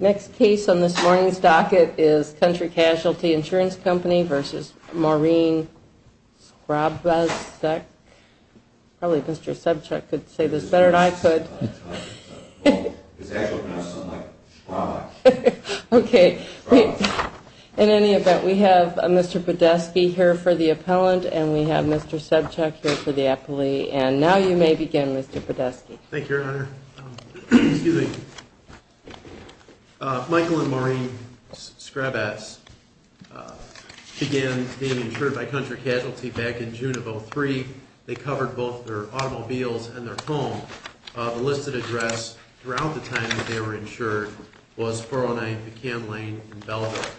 Next case on this morning's docket is Country Casualty Insurance Company v. Maureen Skrabacz. Probably Mr. Subchuck could say this better than I could. In any event, we have Mr. Podeski here for the appellant and we have Mr. Subchuck here for the appellee. And now you may begin, Mr. Podeski. Thank you, Your Honor. Michael and Maureen Skrabacz began being insured by Country Casualty back in June of 2003. They covered both their automobiles and their home. The listed address around the time that they were insured was 409 McCann Lane in Belleville.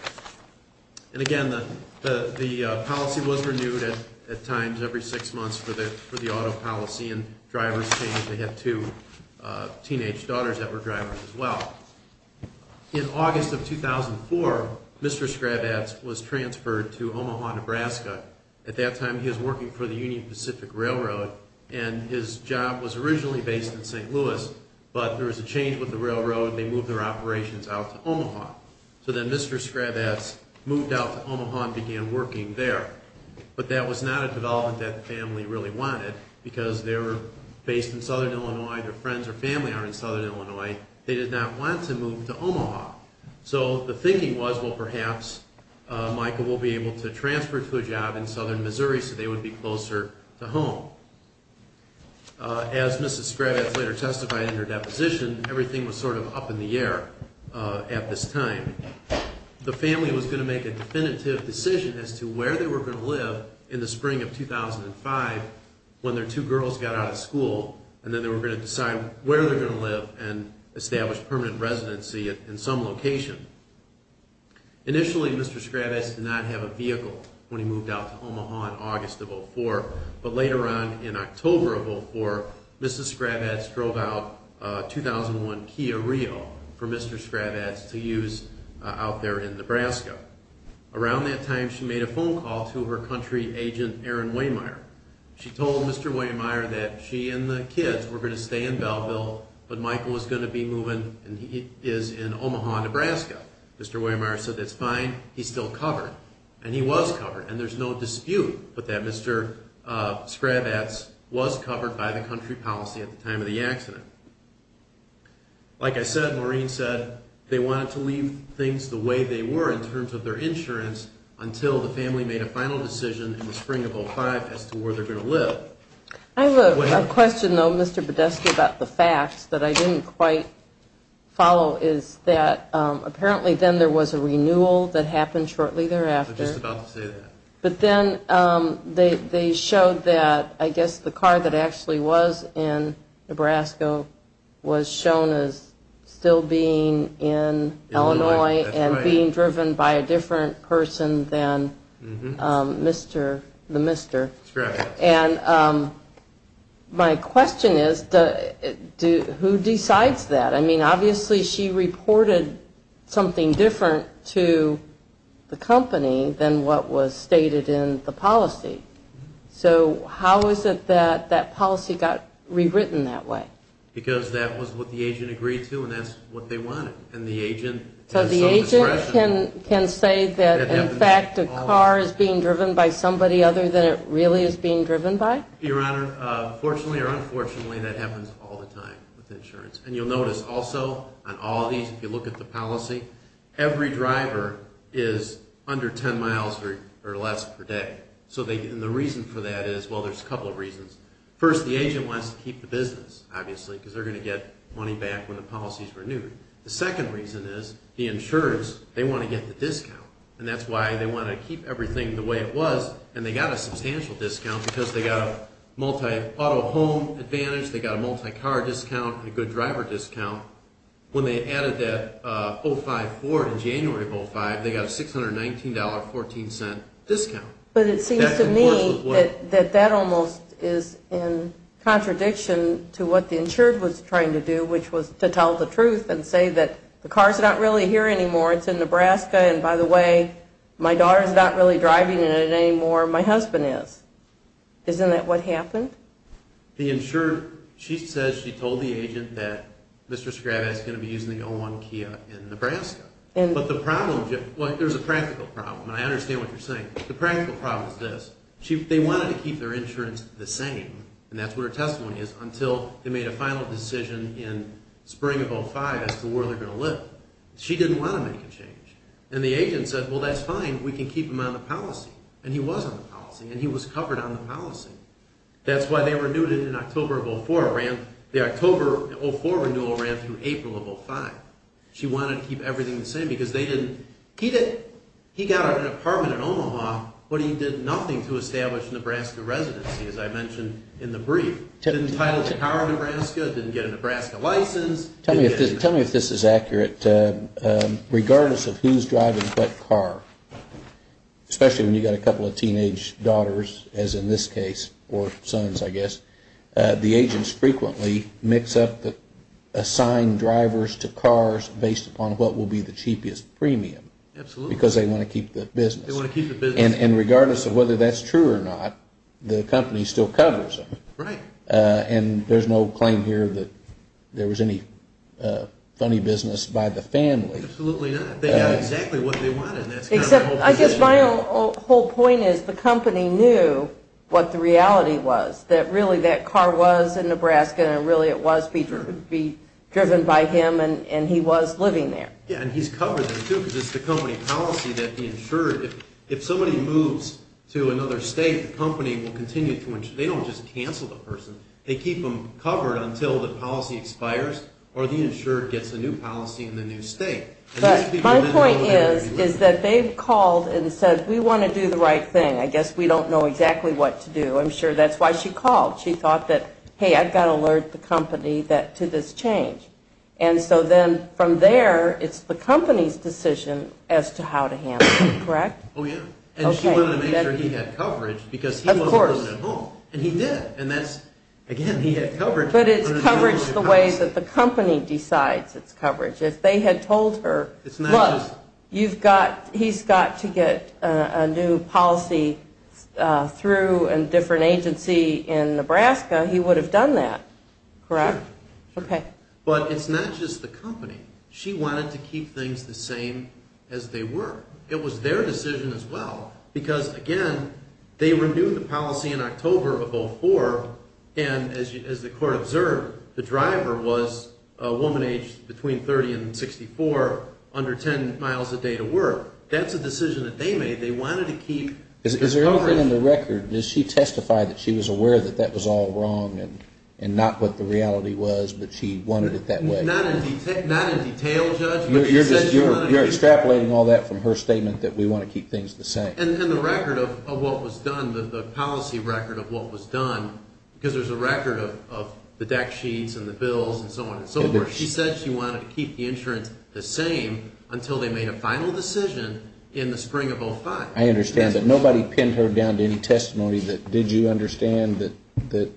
And again, the policy was renewed at times every six months for the auto policy and drivers changed. They had two teenage daughters that were drivers as well. In August of 2004, Mr. Skrabacz was transferred to Omaha, Nebraska. At that time, he was working for the Union Pacific Railroad and his job was originally based in St. Louis. But there was a change with the railroad and they moved their operations out to Omaha. So then Mr. Skrabacz moved out to Omaha and began working there. But that was not a development that the family really wanted because they were based in southern Illinois. Their friends or family are in southern Illinois. They did not want to move to Omaha. So the thinking was, well, perhaps Michael will be able to transfer to a job in southern Missouri so they would be closer to home. As Mrs. Skrabacz later testified in her deposition, everything was sort of up in the air at this time. The family was going to make a definitive decision as to where they were going to live in the spring of 2005 when their two girls got out of school and then they were going to decide where they were going to live and establish permanent residency in some location. Initially, Mr. Skrabacz did not have a vehicle when he moved out to Omaha in August of 2004. But later on in October of 2004, Mrs. Skrabacz drove out a 2001 Kia Rio for Mr. Skrabacz to use out there in Nebraska. Around that time, she made a phone call to her country agent, Aaron Waymeier. She told Mr. Waymeier that she and the kids were going to stay in Belleville, but Michael was going to be moving and he is in Omaha, Nebraska. Mr. Waymeier said, that's fine. He's still covered. And he was covered, and there's no dispute that Mr. Skrabacz was covered by the country policy at the time of the accident. Like I said, Maureen said, they wanted to leave things the way they were in terms of their insurance until the family made a final decision in the spring of 2005 as to where they were going to live. I have a question, though, Mr. Podesta, about the facts that I didn't quite follow. Apparently then there was a renewal that happened shortly thereafter. I was just about to say that. But then they showed that I guess the car that actually was in Nebraska was shown as still being in Illinois and being driven by a different person than the mister. That's correct. And my question is, who decides that? I mean, obviously she reported something different to the company than what was stated in the policy. So how is it that that policy got rewritten that way? Because that was what the agent agreed to and that's what they wanted. But the agent can say that, in fact, a car is being driven by somebody other than it really is being driven by? Your Honor, fortunately or unfortunately, that happens all the time with insurance. And you'll notice also on all of these, if you look at the policy, every driver is under 10 miles or less per day. And the reason for that is, well, there's a couple of reasons. First, the agent wants to keep the business, obviously, because they're going to get money back when the policy is renewed. The second reason is the insurance, they want to get the discount. And that's why they want to keep everything the way it was, and they got a substantial discount because they got a multi-auto home advantage, they got a multi-car discount, a good driver discount. When they added that 05-4 in January of 05, they got a $619.14 discount. But it seems to me that that almost is in contradiction to what the insurance was trying to do, which was to tell the truth and say that the car's not really here anymore, it's in Nebraska, and by the way, my daughter's not really driving in it anymore, my husband is. Isn't that what happened? The insurer, she says she told the agent that Mr. Skrabec is going to be using the 01 Kia in Nebraska. But the problem, well, there's a practical problem, and I understand what you're saying. The practical problem is this. They wanted to keep their insurance the same, and that's what her testimony is, until they made a final decision in spring of 05 as to where they're going to live. She didn't want to make a change. And the agent said, well, that's fine, we can keep him on the policy. And he was on the policy, and he was covered on the policy. That's why they renewed it in October of 04. The October 04 renewal ran through April of 05. She wanted to keep everything the same because they didn't. He got an apartment in Omaha, but he did nothing to establish Nebraska residency, as I mentioned in the brief. Didn't title the car Nebraska, didn't get a Nebraska license. Tell me if this is accurate. Regardless of who's driving what car, especially when you've got a couple of teenage daughters, as in this case, or sons, I guess, the agents frequently mix up the assigned drivers to cars based upon what will be the cheapest premium. Absolutely. Because they want to keep the business. They want to keep the business. And regardless of whether that's true or not, the company still covers them. Right. And there's no claim here that there was any funny business by the family. Absolutely not. They got exactly what they wanted. I guess my whole point is the company knew what the reality was, that really that car was in Nebraska, and really it was driven by him, and he was living there. Yeah, and he's covered that, too, because it's the company policy that he insured. If somebody moves to another state, the company will continue to insure. They don't just cancel the person. They keep them covered until the policy expires or the insurer gets a new policy in the new state. My point is that they've called and said, we want to do the right thing. I guess we don't know exactly what to do. I'm sure that's why she called. She thought that, hey, I've got to alert the company to this change. And so then from there, it's the company's decision as to how to handle it, correct? Oh, yeah. And she wanted to make sure he had coverage because he wasn't living at home, and he did. And that's, again, he had coverage. But it's coverage the way that the company decides it's coverage. If they had told her, look, he's got to get a new policy through a different agency in Nebraska, he would have done that, correct? But it's not just the company. She wanted to keep things the same as they were. It was their decision as well because, again, they renewed the policy in October of 2004, and as the court observed, the driver was a woman aged between 30 and 64, under 10 miles a day to work. That's a decision that they made. They wanted to keep the coverage. Is there anything in the record? Did she testify that she was aware that that was all wrong and not what the reality was, but she wanted it that way? Not in detail, Judge. You're extrapolating all that from her statement that we want to keep things the same. And the record of what was done, the policy record of what was done, because there's a record of the deck sheets and the bills and so on and so forth, she said she wanted to keep the insurance the same until they made a final decision in the spring of 2005. I understand. But nobody pinned her down to any testimony that, did you understand that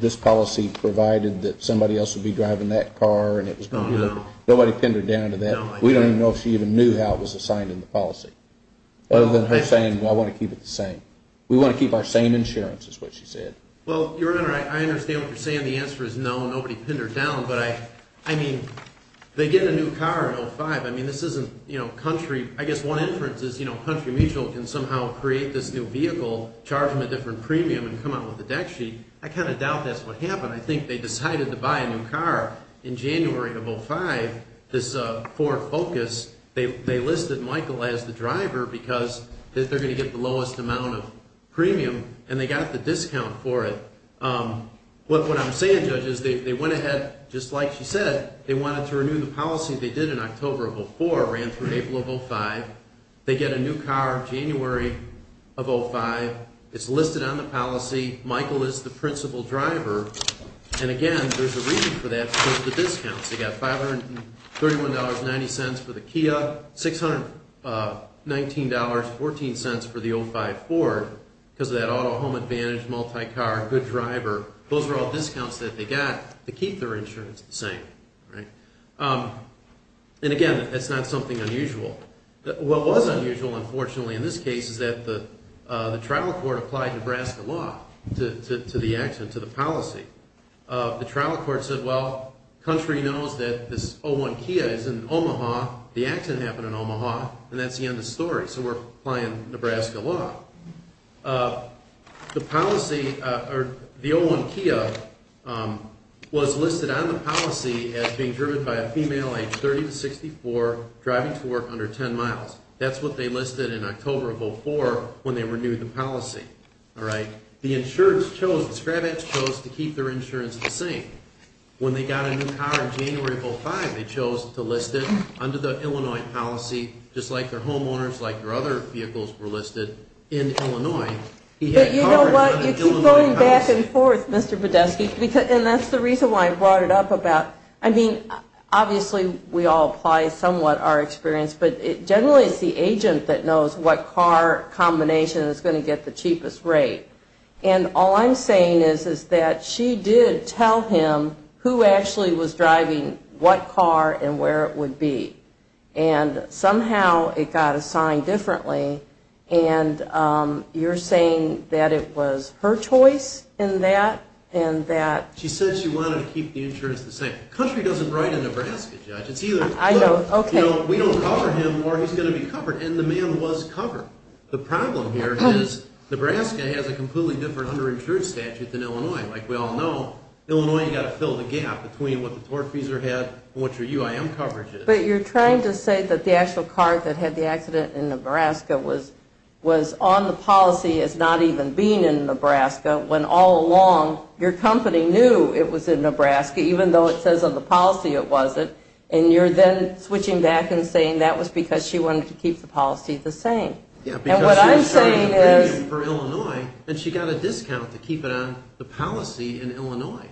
this policy provided that somebody else would be driving that car and it was going to be... No, no. Nobody pinned her down to that? No, I didn't. We don't even know if she even knew how it was assigned in the policy, other than her saying, well, I want to keep it the same. We want to keep our same insurance, is what she said. Well, Your Honor, I understand what you're saying. The answer is no, nobody pinned her down. But, I mean, they get a new car in 2005. I mean, this isn't, you know, country, I guess one inference is, you know, Country Mutual can somehow create this new vehicle, charge them a different premium, and come out with a deck sheet. I kind of doubt that's what happened. I think they decided to buy a new car in January of 2005, this Ford Focus. They listed Michael as the driver because they're going to get the lowest amount of premium, and they got the discount for it. What I'm saying, Judge, is they went ahead, just like she said, they wanted to renew the policy they did in October of 2004, ran through April of 2005. They get a new car January of 2005. It's listed on the policy. Michael is the principal driver. And, again, there's a reason for that, because of the discounts. They got $531.90 for the Kia, $619.14 for the 05 Ford, because of that auto home advantage, multi-car, good driver. Those were all discounts that they got to keep their insurance the same, right? And, again, that's not something unusual. What was unusual, unfortunately, in this case, is that the trial court applied Nebraska law to the accident, to the policy. The trial court said, well, Country knows that this 01 Kia is in Omaha. The accident happened in Omaha, and that's the end of the story. So we're applying Nebraska law. The policy, or the 01 Kia, was listed on the policy as being driven by a female, age 30 to 64, driving to work under 10 miles. That's what they listed in October of 2004 when they renewed the policy, all right? The insurance chose, the Scrabage chose to keep their insurance the same. When they got a new car in January of 2005, they chose to list it under the Illinois policy, just like their homeowners, like their other vehicles were listed in Illinois. But you know what? You keep going back and forth, Mr. Podeski, and that's the reason why I brought it up about, I mean, obviously we all apply somewhat our experience, but it generally is the agent that knows what car combination is going to get the cheapest rate. And all I'm saying is, is that she did tell him who actually was driving what car and where it would be. And somehow it got assigned differently, and you're saying that it was her choice in that, and that? She said she wanted to keep the insurance the same. The country doesn't write in Nebraska, Judge. It's either we don't cover him or he's going to be covered. And the man was covered. The problem here is Nebraska has a completely different underinsured statute than Illinois. Like we all know, Illinois, you've got to fill the gap between what the torque freezer had and what your UIM coverage is. But you're trying to say that the actual car that had the accident in Nebraska was on the policy as not even being in Nebraska when all along your company knew it was in Nebraska, even though it says on the policy it wasn't. And you're then switching back and saying that was because she wanted to keep the policy the same. And what I'm saying is? Yeah, because she was covering the premium for Illinois, and she got a discount to keep it on the policy in Illinois.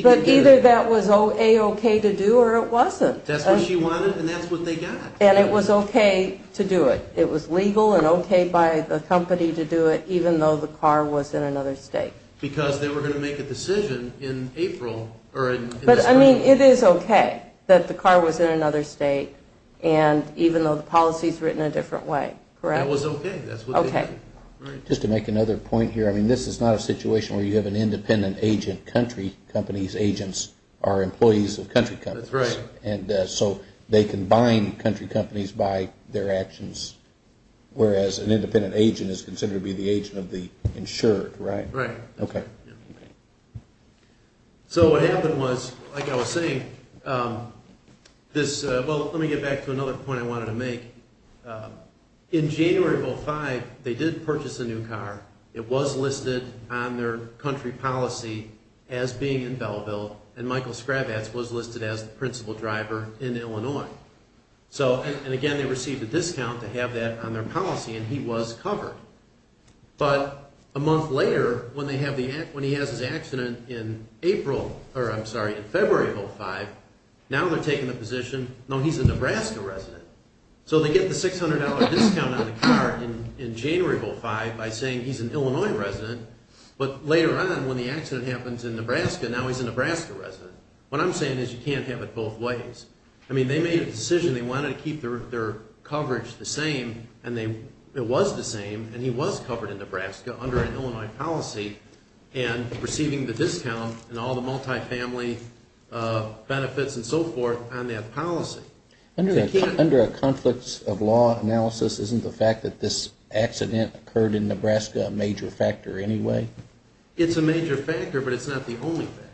But either that was A-okay to do or it wasn't. That's what she wanted, and that's what they got. And it was okay to do it. It was legal and okay by the company to do it, even though the car was in another state. Because they were going to make a decision in April. But, I mean, it is okay that the car was in another state, and even though the policy is written a different way. That was okay. That's what they did. Okay. Just to make another point here. I mean, this is not a situation where you have an independent agent. Country companies' agents are employees of country companies. That's right. And so they can bind country companies by their actions, whereas an independent agent is considered to be the agent of the insured, right? Right. Okay. So what happened was, like I was saying, this-well, let me get back to another point I wanted to make. In January of 2005, they did purchase a new car. It was listed on their country policy as being in Belleville, and Michael Skrabats was listed as the principal driver in Illinois. So, and again, they received a discount to have that on their policy, and he was covered. But a month later, when he has his accident in April-or, I'm sorry, in February of 2005, now they're taking the position, no, he's a Nebraska resident. So they get the $600 discount on the car in January of 2005 by saying he's an Illinois resident, but later on, when the accident happens in Nebraska, now he's a Nebraska resident. What I'm saying is you can't have it both ways. I mean, they made a decision. They wanted to keep their coverage the same, and it was the same, and he was covered in Nebraska under an Illinois policy, and receiving the discount and all the multifamily benefits and so forth on that policy. Under a conflicts of law analysis, isn't the fact that this accident occurred in Nebraska a major factor anyway? It's a major factor, but it's not the only factor.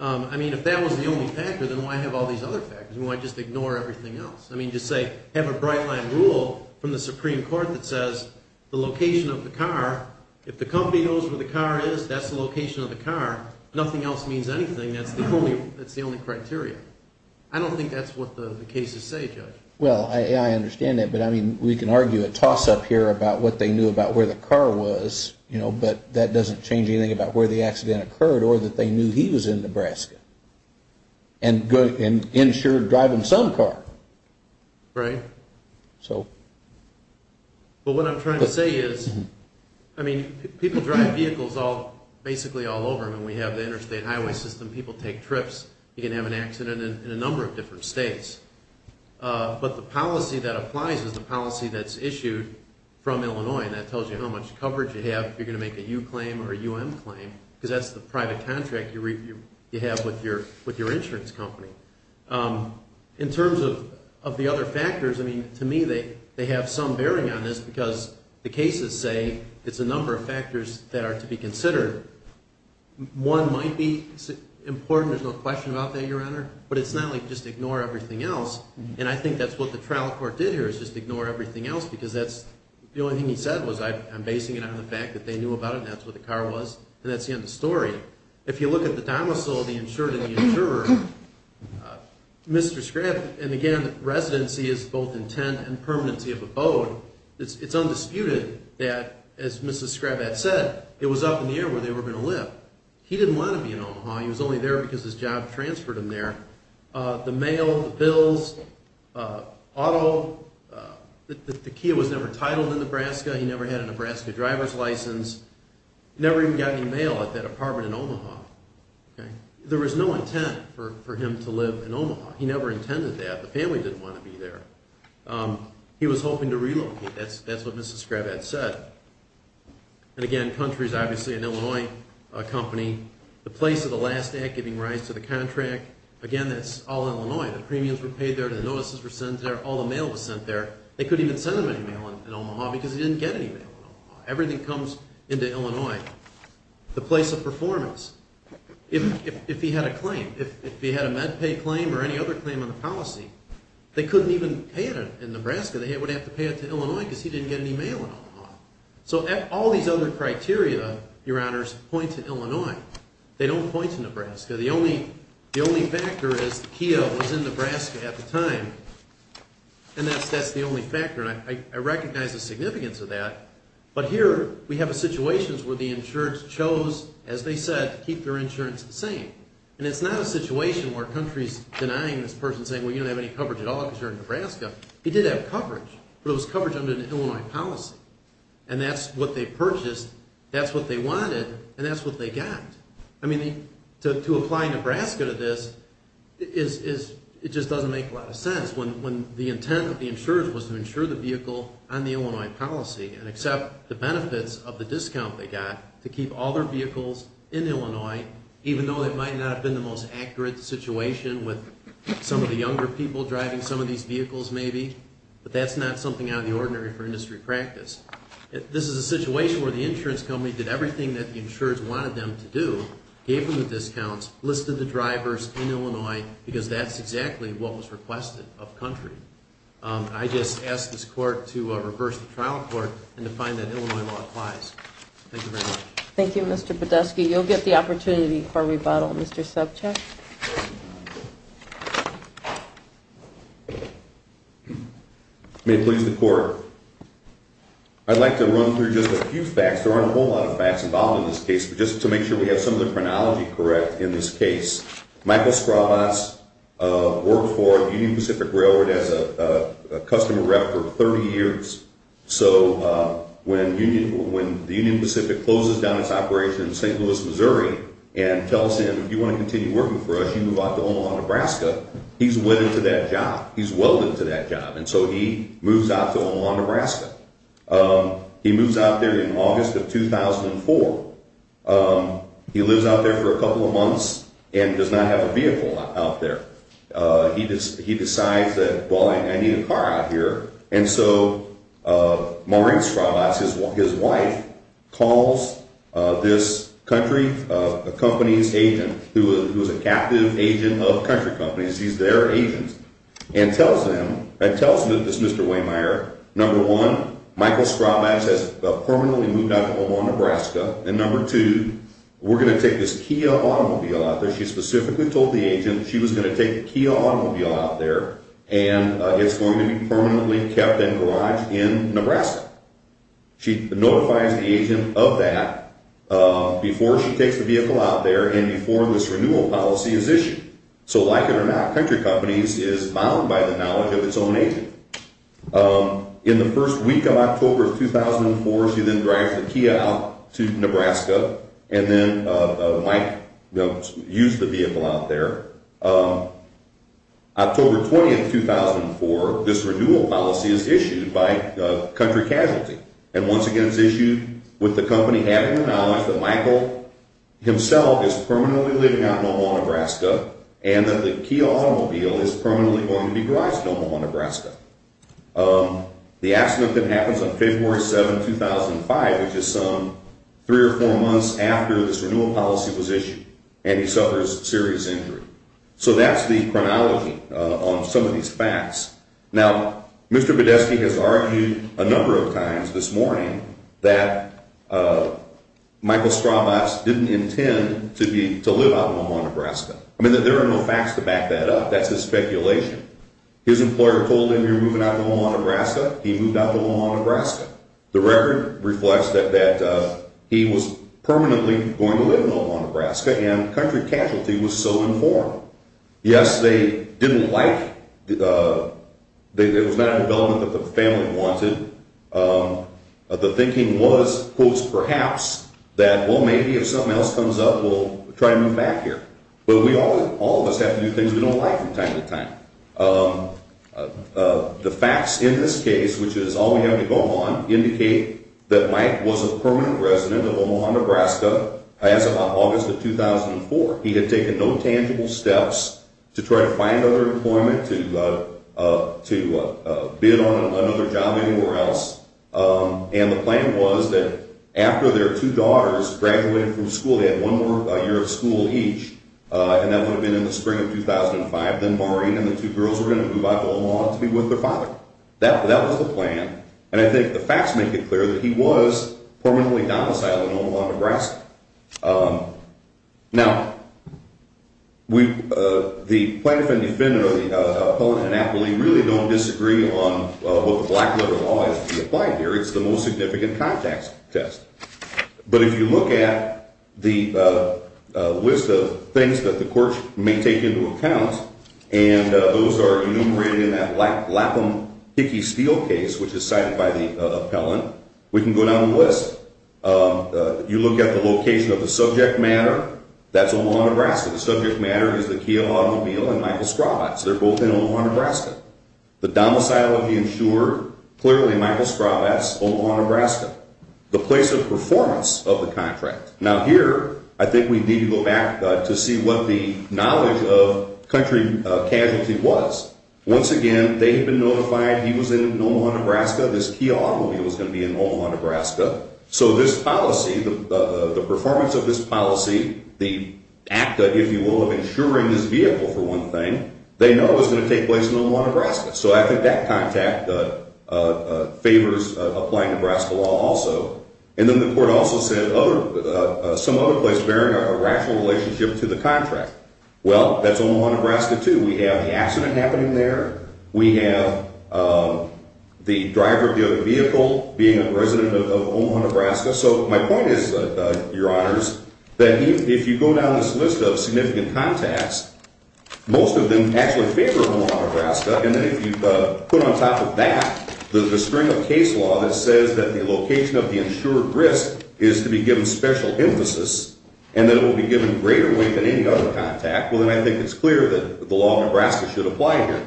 I mean, if that was the only factor, then why have all these other factors? Why just ignore everything else? I mean, just say have a bright line rule from the Supreme Court that says the location of the car, if the company knows where the car is, that's the location of the car. Nothing else means anything. That's the only criteria. I don't think that's what the cases say, Judge. Well, I understand that, but I mean, we can argue a toss-up here about what they knew about where the car was, but that doesn't change anything about where the accident occurred or that they knew he was in Nebraska and insured driving some car. Right. But what I'm trying to say is, I mean, people drive vehicles basically all over. I mean, we have the interstate highway system. People take trips. You can have an accident in a number of different states. But the policy that applies is the policy that's issued from Illinois, and that tells you how much coverage you have if you're going to make a U claim or a UM claim because that's the private contract you have with your insurance company. In terms of the other factors, I mean, to me they have some bearing on this because the cases say it's a number of factors that are to be considered. One might be important. There's no question about that, Your Honor. But it's not like just ignore everything else, and I think that's what the trial court did here is just ignore everything else because that's the only thing he said was, I'm basing it on the fact that they knew about it and that's what the car was, and that's the end of the story. If you look at the domicile of the insured and the insurer, Mr. Scrabb, and again the residency is both intent and permanency of abode, it's undisputed that, as Mrs. Scrabb had said, it was up in the air where they were going to live. He didn't want to be in Omaha. He was only there because his job transferred him there. The mail, the bills, auto, the Kia was never titled in Nebraska. He never had a Nebraska driver's license. Never even got any mail at that apartment in Omaha. There was no intent for him to live in Omaha. He never intended that. The family didn't want to be there. He was hoping to relocate. That's what Mrs. Scrabb had said. And again, country is obviously an Illinois company. The place of the last act giving rise to the contract, again, that's all Illinois. The premiums were paid there. The notices were sent there. All the mail was sent there. They couldn't even send him any mail in Omaha because he didn't get any mail in Omaha. Everything comes into Illinois. The place of performance. If he had a claim, if he had a MedPay claim or any other claim on the policy, they couldn't even pay it in Nebraska. They would have to pay it to Illinois because he didn't get any mail in Omaha. So all these other criteria, Your Honors, point to Illinois. They don't point to Nebraska. The only factor is Kia was in Nebraska at the time, and that's the only factor. And I recognize the significance of that. But here we have a situation where the insurance chose, as they said, to keep their insurance the same. And it's not a situation where country is denying this person saying, Well, you don't have any coverage at all because you're in Nebraska. He did have coverage, but it was coverage under an Illinois policy. And that's what they purchased, that's what they wanted, and that's what they got. I mean, to apply Nebraska to this, it just doesn't make a lot of sense when the intent of the insurance was to insure the vehicle on the Illinois policy and accept the benefits of the discount they got to keep all their vehicles in Illinois, even though it might not have been the most accurate situation with some of the younger people driving some of these vehicles maybe. But that's not something out of the ordinary for industry practice. This is a situation where the insurance company did everything that the insurers wanted them to do, gave them the discounts, listed the drivers in Illinois, because that's exactly what was requested of country. I just ask this Court to reverse the trial court and to find that Illinois law applies. Thank you very much. Thank you, Mr. Podeski. You'll get the opportunity for rebuttal, Mr. Subcheck. May it please the Court, I'd like to run through just a few facts. There aren't a whole lot of facts involved in this case, but just to make sure we have some of the chronology correct in this case, Michael Straubatz worked for Union Pacific Railroad as a customer rep for 30 years. So when the Union Pacific closes down its operation in St. Louis, Missouri and tells him, if you want to continue working for us, you move out to Omaha, Nebraska, he's wedded to that job. He's welded to that job. And so he moves out to Omaha, Nebraska. He moves out there in August of 2004. He lives out there for a couple of months and does not have a vehicle out there. He decides that, well, I need a car out here. And so Maureen Straubatz, his wife, calls this country company's agent, who is a captive agent of country companies, he's their agent, and tells him that this Mr. Wehmeyer, number one, Michael Straubatz has permanently moved out to Omaha, Nebraska, and number two, we're going to take this Kia automobile out there. She specifically told the agent she was going to take the Kia automobile out there and it's going to be permanently kept and garaged in Nebraska. She notifies the agent of that before she takes the vehicle out there and before this renewal policy is issued. So like it or not, country companies is bound by the knowledge of its own agent. In the first week of October of 2004, she then drives the Kia out to Nebraska and then might use the vehicle out there. October 20, 2004, this renewal policy is issued by country casualty and once again is issued with the company having the knowledge that Michael himself is permanently living out in Omaha, Nebraska, and that the Kia automobile is permanently going to be garaged in Omaha, Nebraska. The accident then happens on February 7, 2005, which is some three or four months after this renewal policy was issued, and he suffers serious injury. So that's the chronology on some of these facts. Now, Mr. Badesky has argued a number of times this morning that Michael Stravos didn't intend to live out in Omaha, Nebraska. I mean, there are no facts to back that up. That's just speculation. His employer told him he was moving out to Omaha, Nebraska. He moved out to Omaha, Nebraska. The record reflects that he was permanently going to live in Omaha, Nebraska. And country casualty was so informed. Yes, they didn't like the development that the family wanted. The thinking was, quote, perhaps, that, well, maybe if something else comes up, we'll try to move back here. But all of us have to do things we don't like from time to time. The facts in this case, which is all we have to go on, indicate that Mike was a permanent resident of Omaha, Nebraska as of August of 2004. He had taken no tangible steps to try to find other employment, to bid on another job anywhere else. And the plan was that after their two daughters graduated from school, they had one more year of school each, and that would have been in the spring of 2005, then Maureen and the two girls were going to move out to Omaha to be with their father. That was the plan. And I think the facts make it clear that he was permanently domiciled in Omaha, Nebraska. Now, the plaintiff and defendant, or the opponent and appellee, really don't disagree on what the black-letter law has to be applied here. It's the most significant contact test. But if you look at the list of things that the court may take into account, and those are enumerated in that Lapham-Hickey-Steele case, which is cited by the appellant, we can go down the list. If you look at the location of the subject matter, that's Omaha, Nebraska. The subject matter is the Kia automobile and Michael Straubatz. They're both in Omaha, Nebraska. The domicile of the insurer, clearly Michael Straubatz, Omaha, Nebraska. The place of performance of the contract. Now here, I think we need to go back to see what the knowledge of country casualty was. Once again, they had been notified he was in Omaha, Nebraska. This Kia automobile was going to be in Omaha, Nebraska. So this policy, the performance of this policy, the act, if you will, of insuring this vehicle, for one thing, they know is going to take place in Omaha, Nebraska. So I think that contact favors applying Nebraska law also. And then the court also said some other place bearing a rational relationship to the contract. Well, that's Omaha, Nebraska too. We have the accident happening there. We have the driver of the vehicle being a resident of Omaha, Nebraska. So my point is, Your Honors, that if you go down this list of significant contacts, most of them actually favor Omaha, Nebraska. And then if you put on top of that the string of case law that says that the location of the insured risk is to be given special emphasis and that it will be given greater weight than any other contact, well, then I think it's clear that the law of Nebraska should apply here.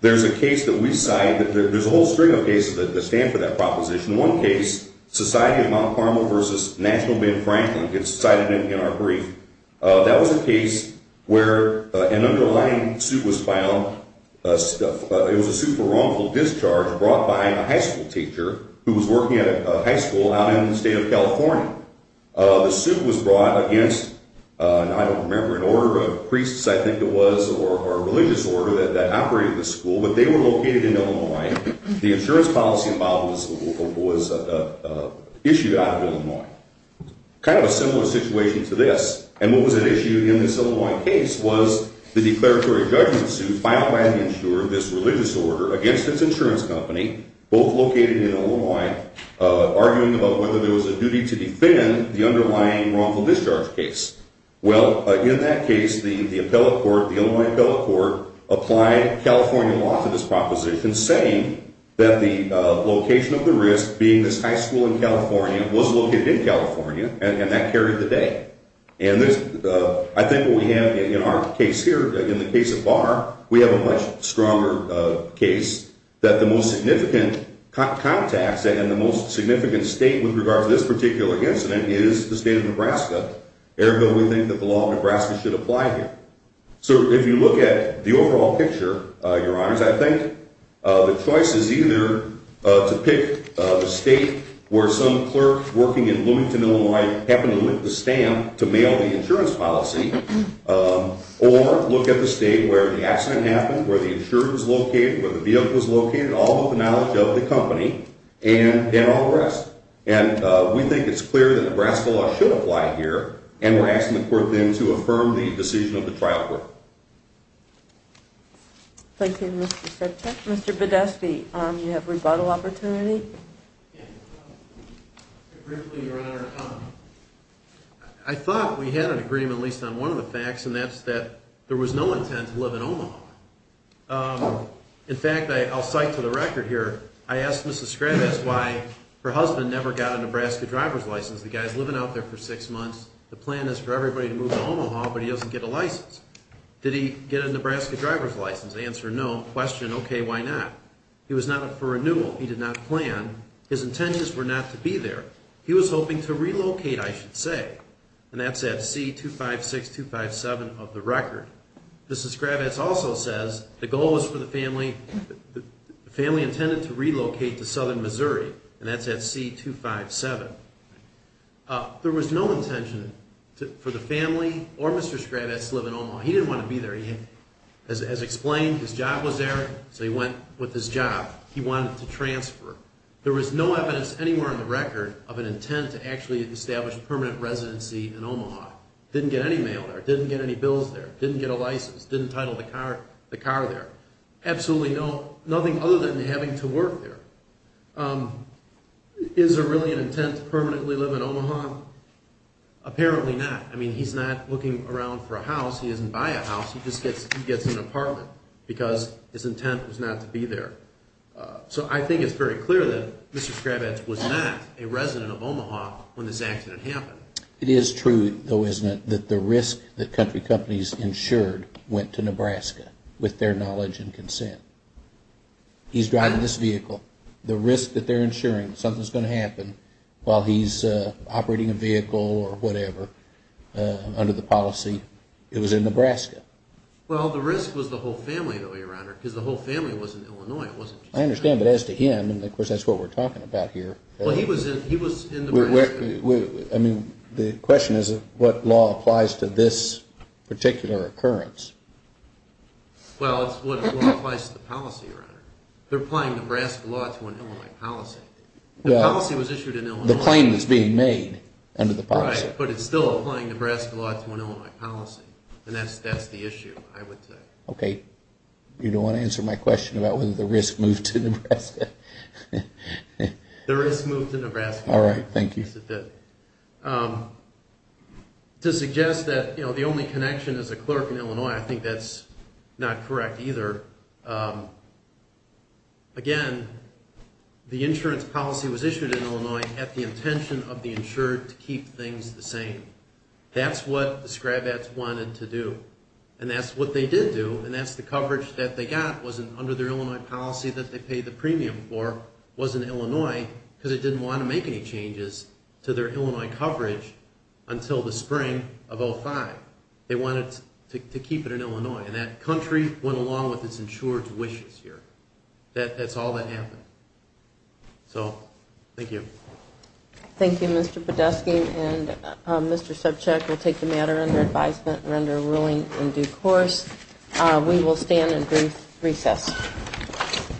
There's a case that we cite. There's a whole string of cases that stand for that proposition. One case, Society of Mount Carmel v. National Bank of Franklin, it's cited in our brief. That was a case where an underlying suit was found. It was a suit for wrongful discharge brought by a high school teacher who was working at a high school out in the state of California. The suit was brought against, I don't remember, an order of priests, I think it was, or a religious order that operated the school. But they were located in Illinois. The insurance policy involved was issued out of Illinois. Kind of a similar situation to this. And what was at issue in this Illinois case was the declaratory judgment suit filed by the insurer, this religious order, against its insurance company, both located in Illinois, arguing about whether there was a duty to defend the underlying wrongful discharge case. Well, in that case, the appellate court, the Illinois appellate court, applied California law to this proposition saying that the location of the risk, being this high school in California, was located in California, and that carried the day. And I think what we have in our case here, in the case of Barr, we have a much stronger case that the most significant contacts and the most significant state with regard to this particular incident is the state of Nebraska, ergo we think that the law of Nebraska should apply here. So if you look at the overall picture, Your Honors, I think the choice is either to pick the state where some clerk working in Bloomington, Illinois, happened to lick the stamp to mail the insurance policy, or look at the state where the accident happened, where the insurer was located, where the vehicle was located, all of the knowledge of the company, and all the rest. And we think it's clear that Nebraska law should apply here, and we're asking the court then to affirm the decision of the trial court. Thank you, Mr. Sedgwick. Mr. Badesky, you have rebuttal opportunity? Briefly, Your Honor, I thought we had an agreement, at least on one of the facts, and that's that there was no intent to live in Omaha. In fact, I'll cite to the record here, I asked Mrs. Scrabb, I asked why her husband never got a Nebraska driver's license. The guy's living out there for six months, the plan is for everybody to move to Omaha, but he doesn't get a license. Did he get a Nebraska driver's license? Answer, no. Question, okay, why not? He was not up for renewal. He did not plan. His intentions were not to be there. He was hoping to relocate, I should say, and that's at C-256-257 of the record. Mrs. Scrabb also says the goal was for the family intended to relocate to southern Missouri, and that's at C-257. There was no intention for the family or Mr. Scrabb to live in Omaha. He didn't want to be there. As explained, his job was there, so he went with his job. He wanted to transfer. There was no evidence anywhere on the record of an intent to actually establish permanent residency in Omaha. Didn't get any mail there, didn't get any bills there, didn't get a license, didn't title the car there. Absolutely nothing other than having to work there. Is there really an intent to permanently live in Omaha? Apparently not. I mean, he's not looking around for a house. He doesn't buy a house. He just gets an apartment because his intent was not to be there. So I think it's very clear that Mr. Scrabb was not a resident of Omaha when this accident happened. It is true, though, isn't it, that the risk that country companies insured went to Nebraska with their knowledge and consent. He's driving this vehicle. The risk that they're insuring something's going to happen while he's operating a vehicle or whatever under the policy, it was in Nebraska. Well, the risk was the whole family, though, Your Honor, because the whole family was in Illinois. I understand, but as to him, and of course that's what we're talking about here. Well, he was in Nebraska. I mean, the question is what law applies to this particular occurrence. Well, it's what applies to the policy, Your Honor. They're applying Nebraska law to an Illinois policy. The policy was issued in Illinois. The claim is being made under the policy. Right, but it's still applying Nebraska law to an Illinois policy, and that's the issue, I would say. Okay. You don't want to answer my question about whether the risk moved to Nebraska? The risk moved to Nebraska. All right. Thank you. To suggest that the only connection is a clerk in Illinois, I think that's not correct either. Again, the insurance policy was issued in Illinois at the intention of the insured to keep things the same. That's what the Scrabats wanted to do, and that's what they did do, and that's the coverage that they got under their Illinois policy that they paid the premium for was in Illinois because they didn't want to make any changes to their Illinois coverage until the spring of 2005. They wanted to keep it in Illinois, and that country went along with its insured's wishes here. That's all that happened. So, thank you. Thank you, Mr. Podeski, and Mr. Subcheck will take the matter under advisement and render a ruling in due course. We will stand and brief recess.